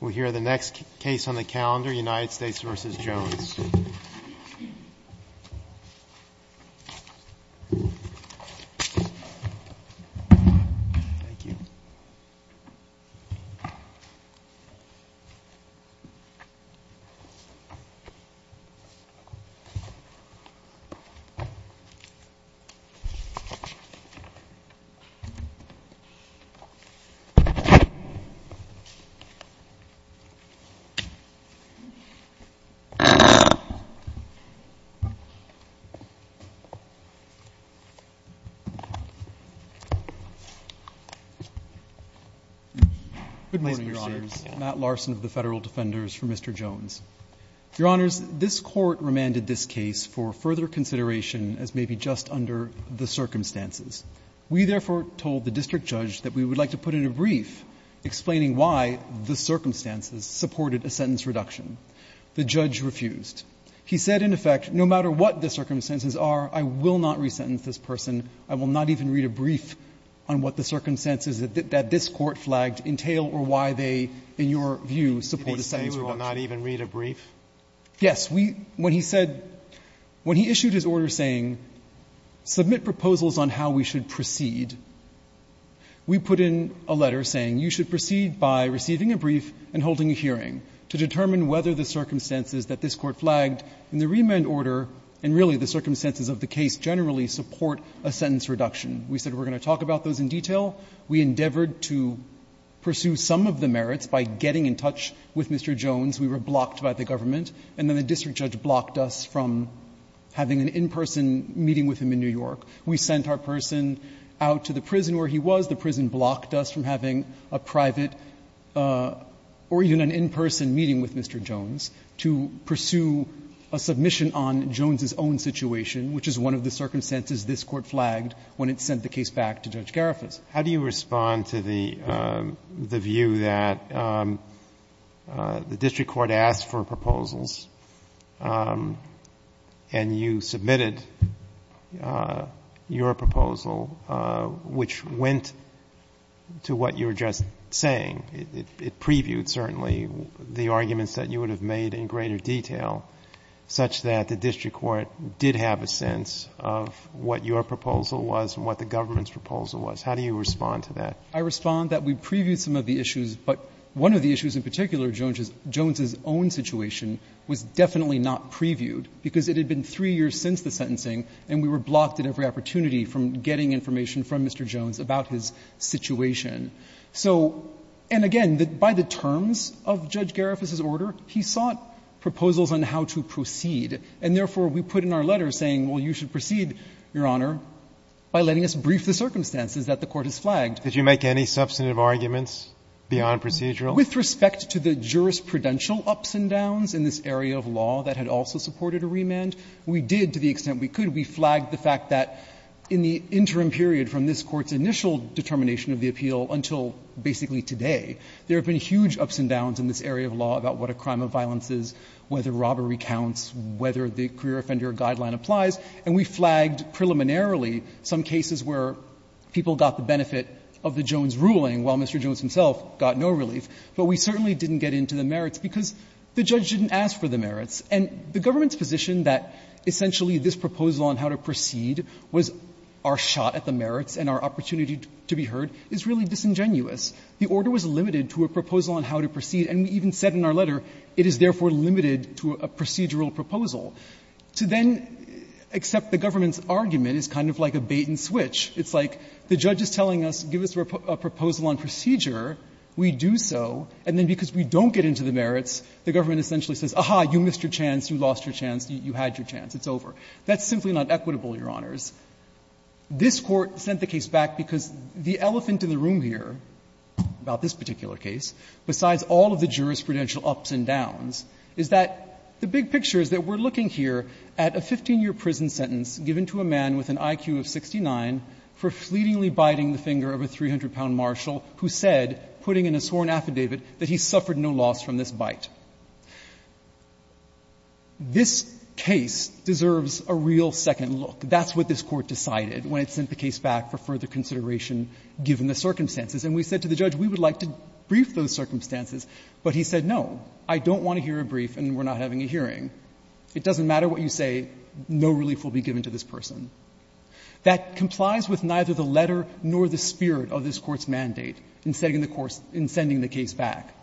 We'll hear the next case on the calendar, United States v. Jones. Good morning, Your Honors. Matt Larson of the Federal Defenders for Mr. Jones. Your Honors, this Court remanded this case for further consideration, as may be just under the circumstances. We, therefore, told the district judge that we would like to put in a brief explaining why the circumstances supported a sentence reduction. The judge refused. He said, in effect, no matter what the circumstances are, I will not resentence this person. I will not even read a brief on what the circumstances that this Court flagged entail or why they, in your view, support a sentence reduction. Roberts. When he issued his order saying, submit proposals on how we should proceed, we put in a letter saying you should proceed by receiving a brief and holding a hearing to determine whether the circumstances that this Court flagged in the remand order and really the circumstances of the case generally support a sentence reduction. We said we're going to talk about those in detail. We endeavored to pursue some of the merits by getting in touch with Mr. Jones. We were blocked by the government. And then the district judge blocked us from having an in-person meeting with him in New York. We sent our person out to the prison where he was. The prison blocked us from having a private or even an in-person meeting with Mr. Jones to pursue a submission on Jones's own situation, which is one of the circumstances this Court flagged when it sent the case back to Judge Garifas. How do you respond to the view that the district court asked for proposals and you submitted your proposal, which went to what you were just saying? It previewed, certainly, the arguments that you would have made in greater detail such that the district court did have a sense of what your proposal was and what the government's proposal was. How do you respond to that? I respond that we previewed some of the issues, but one of the issues in particular, Jones's own situation, was definitely not previewed, because it had been three years since the sentencing and we were blocked at every opportunity from getting information from Mr. Jones about his situation. So, and again, by the terms of Judge Garifas's order, he sought proposals on how to proceed. And therefore, we put in our letter saying, well, you should proceed, Your Honor, by letting us brief the circumstances that the Court has flagged. Did you make any substantive arguments beyond procedural? With respect to the jurisprudential ups and downs in this area of law that had also supported a remand, we did to the extent we could. We flagged the fact that in the interim period from this Court's initial determination of the appeal until basically today, there have been huge ups and downs in this area of law about what a crime of violence is, whether robbery counts, whether the career of a prisoner counts, whether the death penalty counts. And we've had, I think, preliminarily some cases where people got the benefit of the Jones ruling, while Mr. Jones himself got no relief. But we certainly didn't get into the merits because the judge didn't ask for the merits. And the Government's position that essentially this proposal on how to proceed was our shot at the merits and our opportunity to be heard is really disingenuous. The order was limited to a proposal on how to proceed. And we even said in our letter, it is therefore limited to a procedural proposal. To then accept the Government's argument is kind of like a bait-and-switch. It's like the judge is telling us, give us a proposal on procedure, we do so. And then because we don't get into the merits, the Government essentially says, aha, you missed your chance, you lost your chance, you had your chance, it's over. That's simply not equitable, Your Honors. This Court sent the case back because the elephant in the room here about this particular case, besides all of the jurisprudential ups and downs, is that the big picture is that we're looking here at a 15-year prison sentence given to a man with an IQ of 69 for fleetingly biting the finger of a 300-pound marshal who said, putting in a sworn affidavit, that he suffered no loss from this bite. This case deserves a real second look. That's what this Court decided when it sent the case back for further consideration given the circumstances. And we said to the judge, we would like to brief those circumstances. But he said, no, I don't want to hear a brief and we're not having a hearing. It doesn't matter what you say. No relief will be given to this person. That complies with neither the letter nor the spirit of this Court's mandate in sending the case back.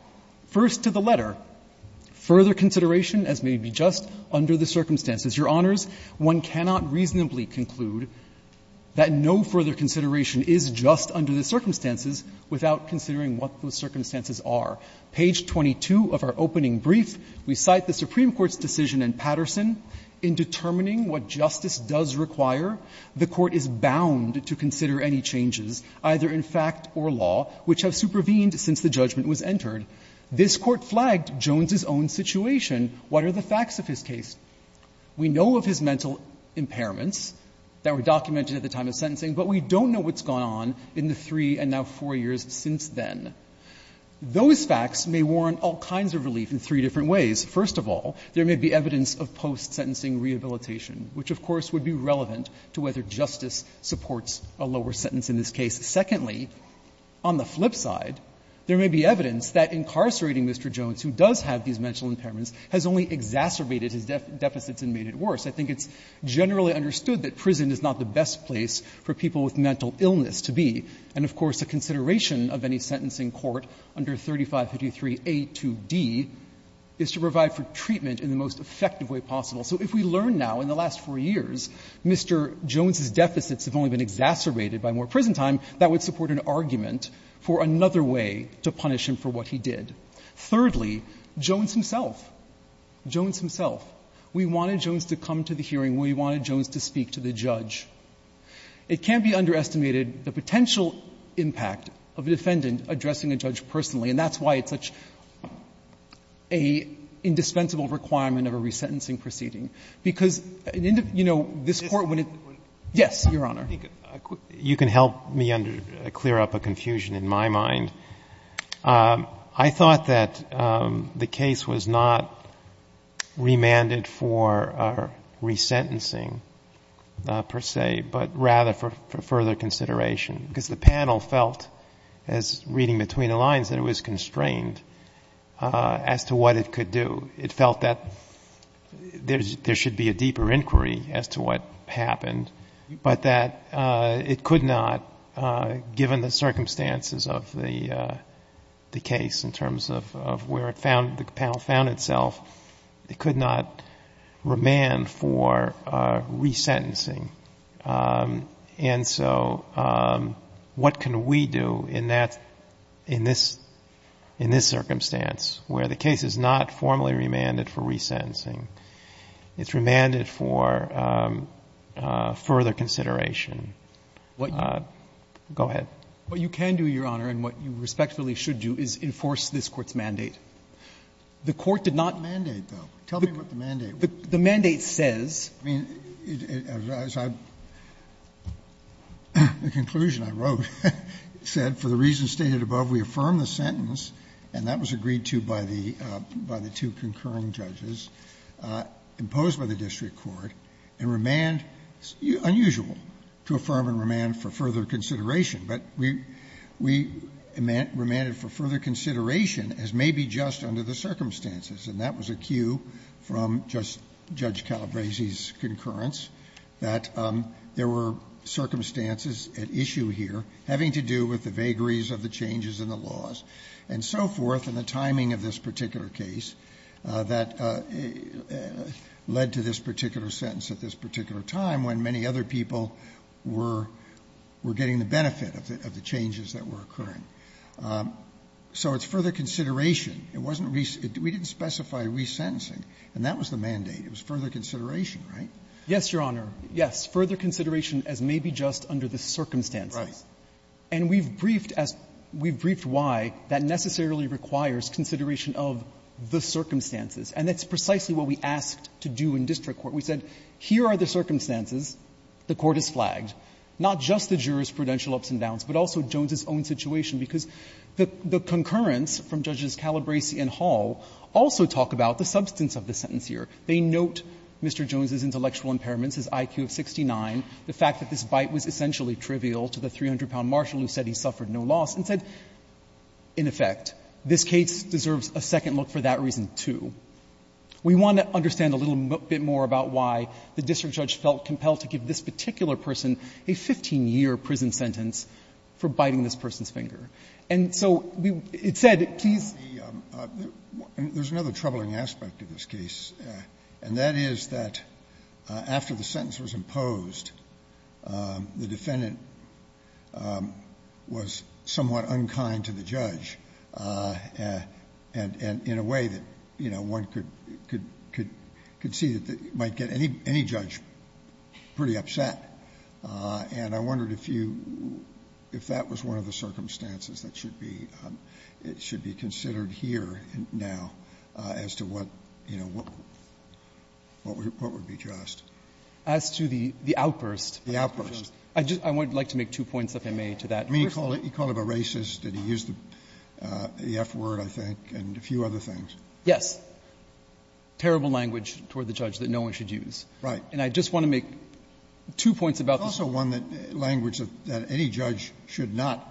First to the letter, further consideration as may be just under the circumstances. Your Honors, one cannot reasonably conclude that no further consideration is just under the circumstances without considering what those circumstances are. Page 22 of our opening brief, we cite the Supreme Court's decision in Patterson in determining what justice does require. The Court is bound to consider any changes, either in fact or law, which have supervened since the judgment was entered. This Court flagged Jones's own situation. What are the facts of his case? We know of his mental impairments that were documented at the time of sentencing, but we don't know what's gone on in the three and now four years since then. Those facts may warrant all kinds of relief in three different ways. First of all, there may be evidence of post-sentencing rehabilitation, which of course would be relevant to whether justice supports a lower sentence in this case. Secondly, on the flip side, there may be evidence that incarcerating Mr. Jones, who does have these mental impairments, has only exacerbated his deficits and made it worse. I think it's generally understood that prison is not the best place for people with mental illness to be. And of course, a consideration of any sentence in court under 3553a to d is to provide for treatment in the most effective way possible. So if we learn now in the last four years Mr. Jones's deficits have only been exacerbated by more prison time, that would support an argument for another way to punish him for what he did. Thirdly, Jones himself, Jones himself. We wanted Jones to come to the hearing. We wanted Jones to speak to the judge. It can't be underestimated the potential impact of a defendant addressing a judge personally, and that's why it's such an indispensable requirement of a resentencing proceeding, because, you know, this Court wouldn't be able to do that. Yes, Your Honor. You can help me clear up a confusion in my mind. I thought that the case was not remanded for resentencing, per se, but rather for further consideration, because the panel felt, as reading between the lines, that it was constrained as to what it could do. It felt that there should be a deeper inquiry as to what happened, but that it could not, given the circumstances of the case in terms of where the panel found itself, it could not remand for resentencing. And so what can we do in that, in this circumstance, where the case is not formally remanded for resentencing, it's remanded for further consideration? Go ahead. What you can do, Your Honor, and what you respectfully should do is enforce this Court's mandate. The Court did not mandate, though. Tell me what the mandate was. The mandate says. I mean, the conclusion I wrote said, for the reasons stated above, we affirm the sentence, and that was agreed to by the two concurring judges, imposed by the district court, and remand, unusual to affirm and remand for further consideration. But we remanded for further consideration, as may be just under the circumstances. And that was a cue from Judge Calabresi's concurrence, that there were circumstances at issue here having to do with the vagaries of the changes in the laws, and so forth, and the timing of this particular case that led to this particular sentence at this particular time when many other people were getting the benefit of the changes that were occurring. So it's further consideration. It wasn't re-sentencing. We didn't specify re-sentencing, and that was the mandate. It was further consideration, right? Yes, Your Honor. Yes. Further consideration as may be just under the circumstances. Right. And we've briefed as we've briefed why that necessarily requires consideration of the circumstances, and that's precisely what we asked to do in district court. We said, here are the circumstances, the Court has flagged, not just the jurors' prudential ups and downs, but also Jones's own situation, because the concurrence from Judges Calabresi and Hall also talk about the substance of the sentence here. They note Mr. Jones's intellectual impairments, his IQ of 69, the fact that this bite was essentially trivial to the 300-pound marshal who said he suffered no loss and said, in effect, this case deserves a second look for that reason, too. We want to understand a little bit more about why the district judge felt compelled to give this particular person a 15-year prison sentence for biting this person's finger. And so it said, please be the one. There's another troubling aspect of this case, and that is that after the sentence was imposed, the defendant was somewhat unkind to the judge, and in a way that, you know, one could see that it might get any judge pretty upset. And I wondered if that was one of the circumstances that should be considered here now as to what, you know, what would be just. As to the outburst? The outburst. I would like to make two points, if I may, to that. I mean, you called him a racist, and he used the F word, I think, and a few other things. Yes. Terrible language toward the judge that no one should use. Right. And I just want to make two points about this. It's also one that language that any judge should not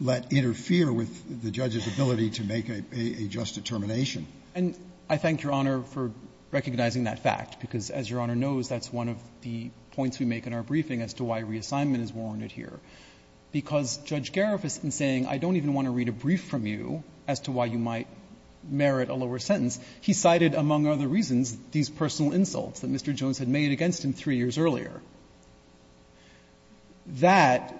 let interfere with the judge's ability to make a just determination. And I thank Your Honor for recognizing that fact, because as Your Honor knows, that's one of the points we make in our briefing as to why reassignment is warranted here. Because Judge Gariff has been saying, I don't even want to read a brief from you as to why you might merit a lower sentence. He cited, among other reasons, these personal insults that Mr. Jones had made against him three years earlier. That,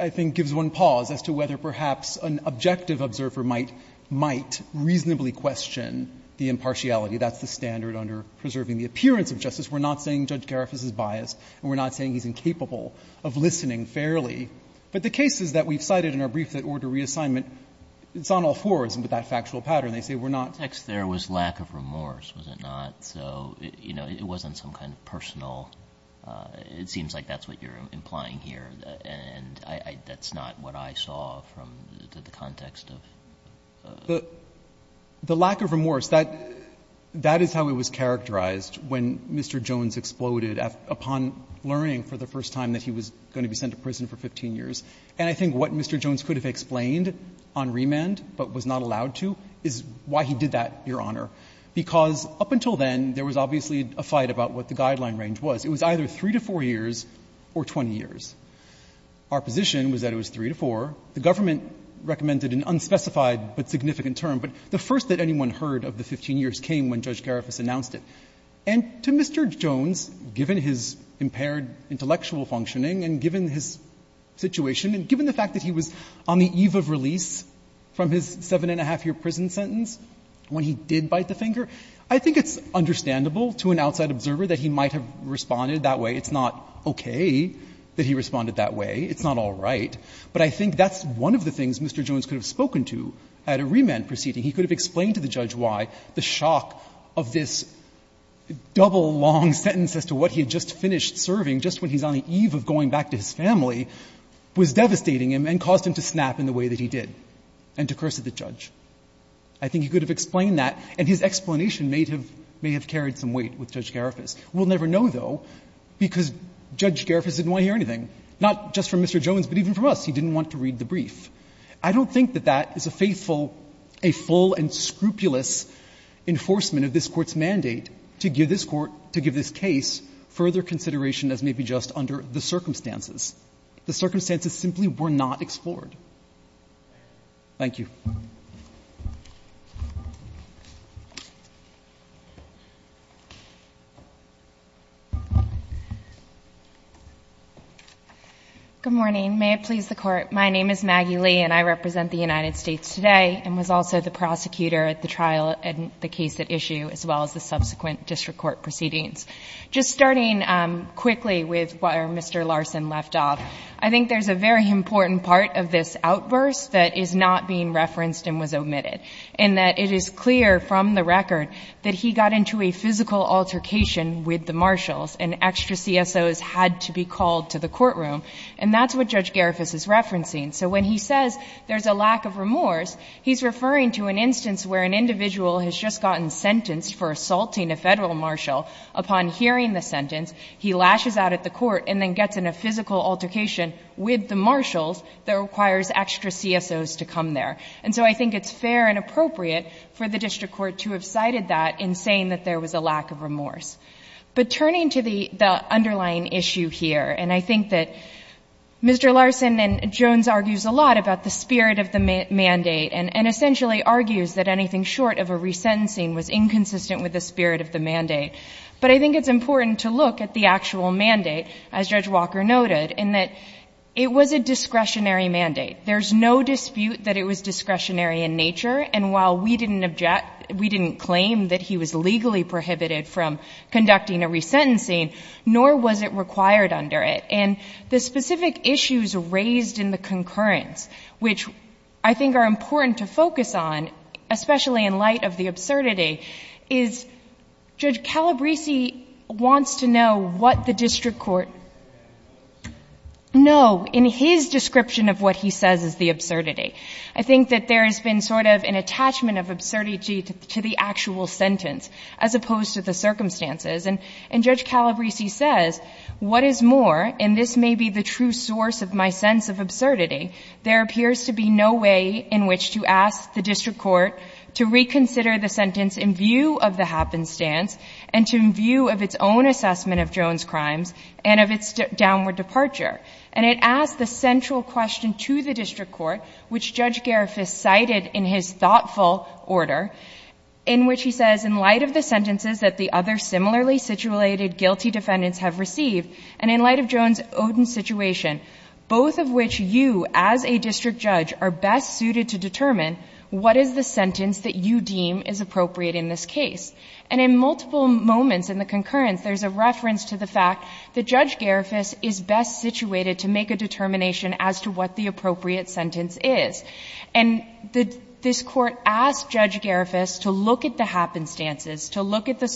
I think, gives one pause as to whether perhaps an objective observer might reasonably question the impartiality. That's the standard under preserving the appearance of justice. We're not saying Judge Gariff is biased, and we're not saying he's incapable of listening fairly. But the cases that we've cited in our brief that order reassignment, it's on all fours with that factual pattern. They say we're not. Roberts. There was lack of remorse, was it not? So, you know, it wasn't some kind of personal. It seems like that's what you're implying here. And that's not what I saw from the context of the case. The lack of remorse, that is how it was characterized when Mr. Jones exploded upon learning for the first time that he was going to be sent to prison for 15 years. And I think what Mr. Jones could have explained on remand, but was not allowed to, is why he did that, Your Honor, because up until then, there was obviously a fight about what the guideline range was. It was either 3 to 4 years or 20 years. Our position was that it was 3 to 4. The government recommended an unspecified but significant term, but the first that anyone heard of the 15 years came when Judge Gariff announced it. And to Mr. Jones, given his impaired intellectual functioning and given his situation and given the fact that he was on the eve of release from his seven-and-a-half-year prison sentence when he did bite the finger, I think it's understandable to an outside observer that he might have responded that way. It's not okay that he responded that way. It's not all right. But I think that's one of the things Mr. Jones could have spoken to at a remand proceeding. He could have explained to the judge why the shock of this double long sentence as to what he had just finished serving just when he's on the eve of going back to his family was devastating him and caused him to snap in the way that he did and to curse at the judge. I think he could have explained that, and his explanation may have carried some weight with Judge Gariffas. We'll never know, though, because Judge Gariffas didn't want to hear anything, not just from Mr. Jones, but even from us. He didn't want to read the brief. I don't think that that is a faithful, a full and scrupulous enforcement of this Court's mandate to give this Court, to give this case further consideration as maybe just under the circumstances. The circumstances simply were not explored. Thank you. Good morning. May it please the Court. My name is Maggie Lee, and I represent the United States today and was also the prosecutor at the trial and the case at issue, as well as the subsequent district court proceedings. Just starting quickly with where Mr. Larson left off, I think there's a very important part of this outburst that is not being referenced and was omitted, in that it is clear from the record that he got into a physical altercation with the marshals and extra CSOs had to be called to the courtroom, and that's what Judge Gariffas is referencing. So when he says there's a lack of remorse, he's referring to an instance where an individual has just gotten sentenced for assaulting a Federal marshal. Upon hearing the sentence, he lashes out at the Court and then gets in a physical altercation with the marshals that requires extra CSOs to come there. And so I think it's fair and appropriate for the district court to have cited that in saying that there was a lack of remorse. But turning to the underlying issue here, and I think that Mr. Larson and Jones argues a lot about the spirit of the mandate and essentially argues that anything short of a resentencing was inconsistent with the spirit of the mandate. But I think it's important to look at the actual mandate, as Judge Walker noted, in that it was a discretionary mandate. There's no dispute that it was discretionary in nature. And while we didn't object, we didn't claim that he was legally prohibited from conducting a resentencing, nor was it required under it. And the specific issues raised in the concurrence, which I think are important to focus on, especially in light of the absurdity, is Judge Calabresi wants to know what the district court know in his description of what he says is the absurdity. I think that there has been sort of an attachment of absurdity to the actual sentence as opposed to the circumstances. And Judge Calabresi says, what is more, and this may be the true source of my sense of absurdity, there appears to be no way in which to ask the district court to reconsider the sentence in view of the happenstance and to view of its own assessment of Jones' crimes and of its downward departure. And it asks the central question to the district court, which Judge Garifuss cited in his thoughtful order, in which he says, in light of the sentences that the other similarly situated guilty defendants have received, and in light of Jones' Odin situation, both of which you, as a district judge, are best suited to determine what is the sentence that you deem is appropriate in this case. And in multiple moments in the concurrence, there's a reference to the fact that Judge Garifuss is best situated to make a determination as to what the appropriate sentence is. And this Court asked Judge Garifuss to look at the happenstances, to look at the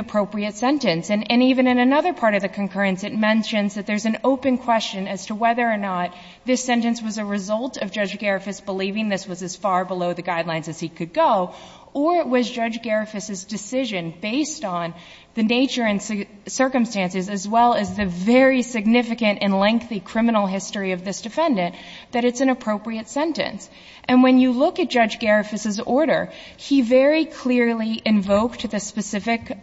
appropriate sentence. And even in another part of the concurrence, it mentions that there's an open question as to whether or not this sentence was a result of Judge Garifuss believing this was as far below the guidelines as he could go, or it was Judge Garifuss's decision, based on the nature and circumstances as well as the very significant and lengthy criminal history of this defendant, that it's an appropriate sentence. And when you look at Judge Garifuss's order, he very clearly invoked the specific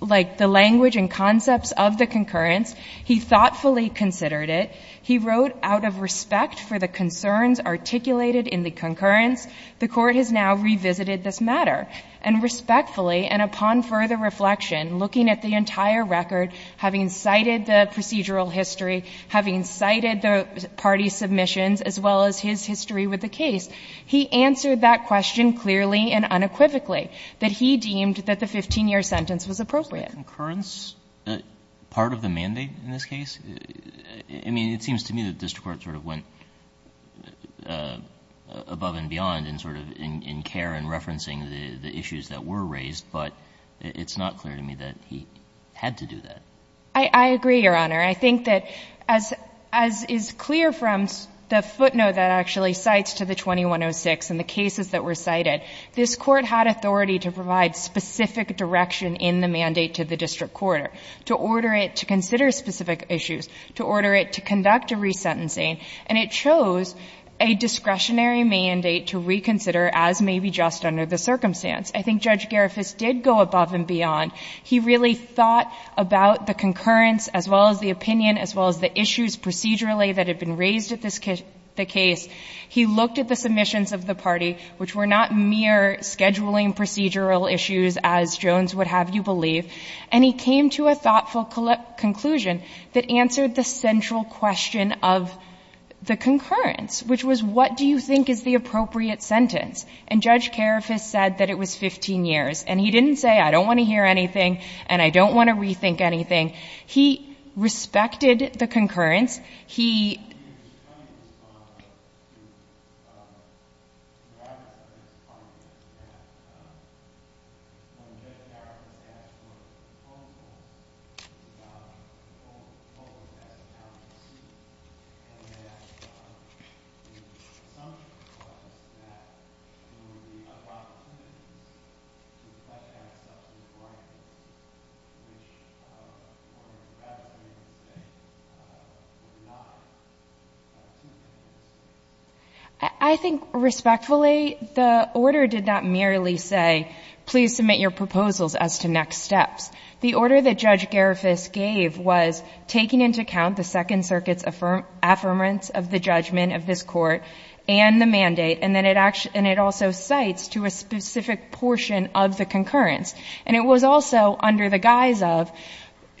like the language and concepts of the concurrence. He thoughtfully considered it. He wrote out of respect for the concerns articulated in the concurrence. The Court has now revisited this matter. And respectfully, and upon further reflection, looking at the entire record, having cited the procedural history, having cited the parties' submissions, as well as his history with the case, he answered that question clearly and unequivocally, that he deemed that the 15-year sentence was appropriate. But the concurrence, part of the mandate in this case? I mean, it seems to me that district court sort of went above and beyond in sort of in care and referencing the issues that were raised. But it's not clear to me that he had to do that. I agree, Your Honor. I think that as is clear from the footnote that actually cites to the 2106 and the cases that were cited, this Court had authority to provide specific direction in the mandate to the district court, to order it to consider specific issues, to order it to conduct a resentencing. And it chose a discretionary mandate to reconsider, as may be just under the circumstance. I think Judge Garifuss did go above and beyond. He really thought about the concurrence, as well as the opinion, as well as the issues procedurally that had been raised at this case. He looked at the submissions of the party, which were not mere scheduling procedural issues, as Jones would have you believe, and he came to a thoughtful conclusion that answered the central question of the concurrence, which was, what do you think is the appropriate sentence? And Judge Garifuss said that it was 15 years. And he didn't say, I don't want to hear anything and I don't want to rethink anything. He respected the concurrence. He... I think, respectfully, the order did not merely say, please submit your proposals as to next steps. The order that Judge Garifuss gave was taking into account the Second Circuit's affirmance of the judgment of this Court and the mandate, and it also cites to a specific portion of the concurrence. And it was also under the guise of,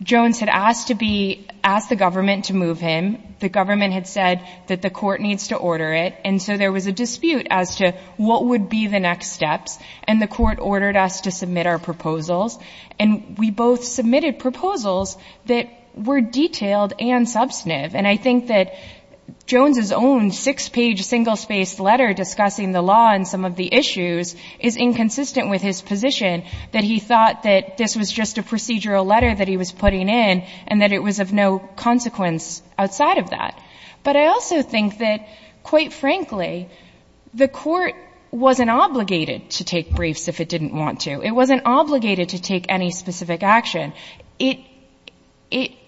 Jones had asked to be, asked the government to move him. The government had said that the Court needs to order it. And so there was a dispute as to what would be the next steps. And the Court ordered us to submit our proposals. And we both submitted proposals that were detailed and substantive. And I think that Jones's own six-page, single-spaced letter discussing the law and some of the issues is inconsistent with his position, that he thought that this was just a procedural letter that he was putting in and that it was of no consequence outside of that. But I also think that, quite frankly, the Court wasn't obligated to take briefs if it didn't want to. It wasn't obligated to take any specific action. It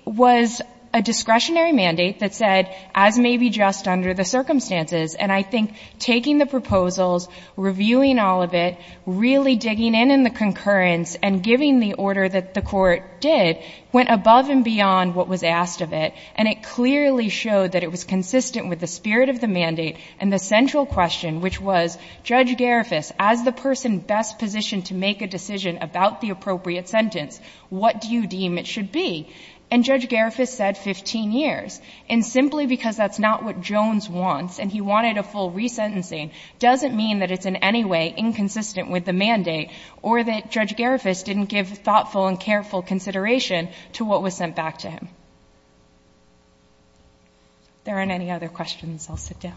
was a discretionary mandate that said, as may be just under the circumstances. And I think taking the proposals, reviewing all of it, really digging in in the literature that the Court did, went above and beyond what was asked of it. And it clearly showed that it was consistent with the spirit of the mandate. And the central question, which was, Judge Garifas, as the person best positioned to make a decision about the appropriate sentence, what do you deem it should be? And Judge Garifas said 15 years. And simply because that's not what Jones wants and he wanted a full resentencing doesn't mean that it's in any way inconsistent with the mandate or that Judge Garifas didn't give thoughtful and careful consideration to what was sent back to him. If there aren't any other questions, I'll sit down.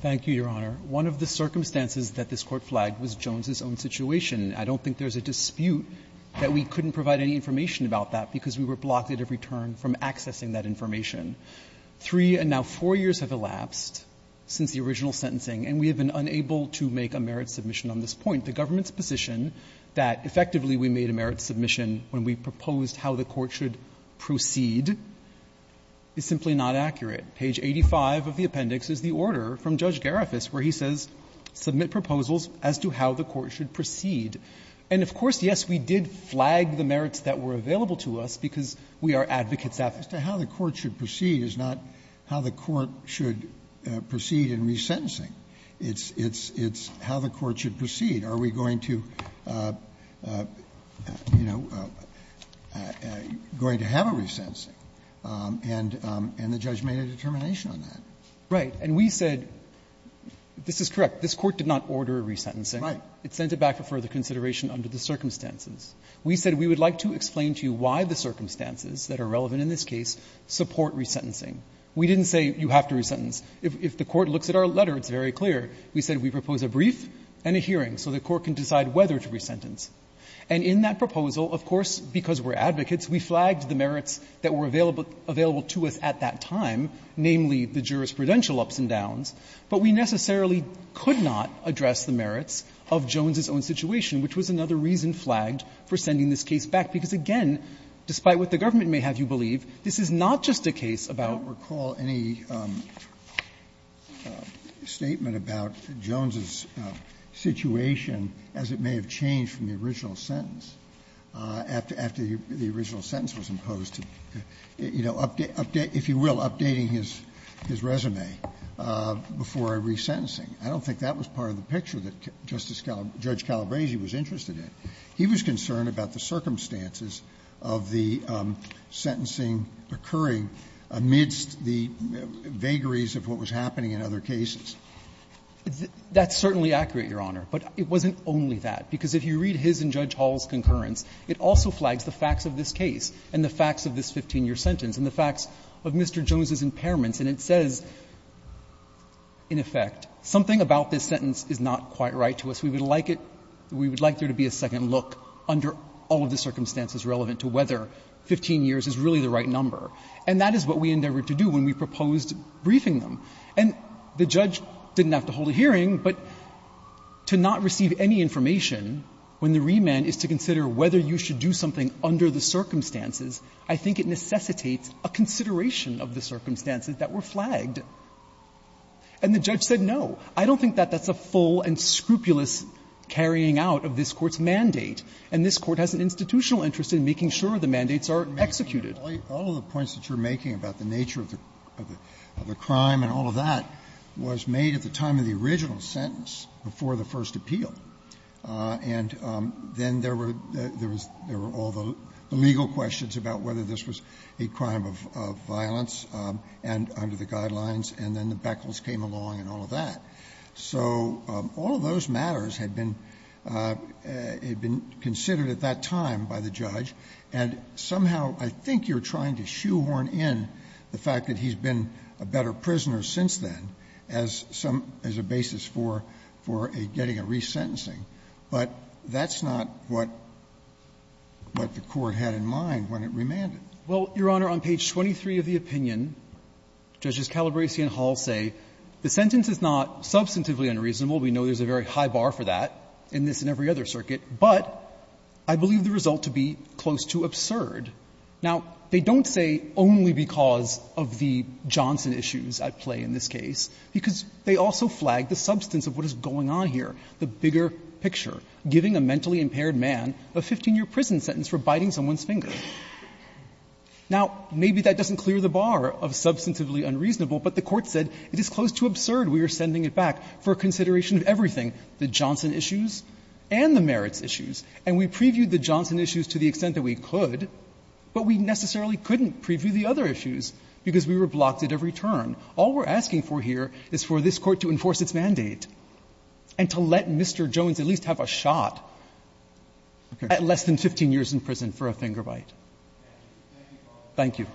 Thank you, Your Honor. One of the circumstances that this Court flagged was Jones' own situation. I don't think there's a dispute that we couldn't provide any information about that because we were blocked at every turn from accessing that information. Three and now four years have elapsed since the original sentencing, and we have been unable to make a merits submission on this point. The government's position that effectively we made a merits submission when we proposed how the Court should proceed is simply not accurate. Page 85 of the appendix is the order from Judge Garifas where he says submit proposals as to how the Court should proceed. And, of course, yes, we did flag the merits that were available to us because we are advocates advocates. Sotomayor, how the Court should proceed is not how the Court should proceed in resentencing. It's how the Court should proceed. Are we going to, you know, going to have a resentencing? And the judge made a determination on that. Right. And we said this is correct. This Court did not order a resentencing. Right. It sent it back for further consideration under the circumstances. We said we would like to explain to you why the circumstances that are relevant in this case support resentencing. We didn't say you have to resentence. If the Court looks at our letter, it's very clear. We said we propose a brief and a hearing so the Court can decide whether to resentence. And in that proposal, of course, because we are advocates, we flagged the merits that were available to us at that time, namely the jurisprudential ups and downs, but we necessarily could not address the merits of Jones's own situation, which was another reason flagged for sending this case back. Because, again, despite what the government may have you believe, this is not just Sotomayor, I don't recall any statement about Jones's situation as it may have changed from the original sentence, after the original sentence was imposed, to, you know, if you will, updating his resume before a resentencing. I don't think that was part of the picture that Justice Calabresi was interested in. He was concerned about the circumstances of the sentencing occurring amidst the vagaries of what was happening in other cases. That's certainly accurate, Your Honor, but it wasn't only that. Because if you read his and Judge Hall's concurrence, it also flags the facts of this case and the facts of this 15-year sentence and the facts of Mr. Jones's impairments. And it says, in effect, something about this sentence is not quite right to us. We would like it to be a second look under all of the circumstances relevant to whether 15 years is really the right number. And that is what we endeavored to do when we proposed briefing them. And the judge didn't have to hold a hearing, but to not receive any information when the remand is to consider whether you should do something under the circumstances, I think it necessitates a consideration of the circumstances that were flagged. And the judge said, no, I don't think that that's a full and scrupulous carrying out of this Court's mandate, and this Court has an institutional interest in making sure the mandates are executed. All of the points that you're making about the nature of the crime and all of that was made at the time of the original sentence, before the first appeal. And then there were all the legal questions about whether this was a crime of violence and under the guidelines, and then the beckles came along and all of that. So all of those matters had been considered at that time by the judge. And somehow I think you're trying to shoehorn in the fact that he's been a better prisoner since then as some as a basis for a getting a resentencing, but that's not what the Court had in mind when it remanded. Well, Your Honor, on page 23 of the opinion, Judges Calabresi and Hall say, the sentence is not substantively unreasonable. We know there's a very high bar for that in this and every other circuit, but I believe the result to be close to absurd. Now, they don't say only because of the Johnson issues at play in this case, because they also flag the substance of what is going on here, the bigger picture, giving a mentally impaired man a 15-year prison sentence for biting someone's finger. Now, maybe that doesn't clear the bar of substantively unreasonable, but the Court said it is close to absurd. We are sending it back for consideration of everything, the Johnson issues and the but we necessarily couldn't preview the other issues because we were blocked at every turn. All we're asking for here is for this Court to enforce its mandate and to let Mr. Jones at least have a shot at less than 15 years in prison for a finger bite. Thank you.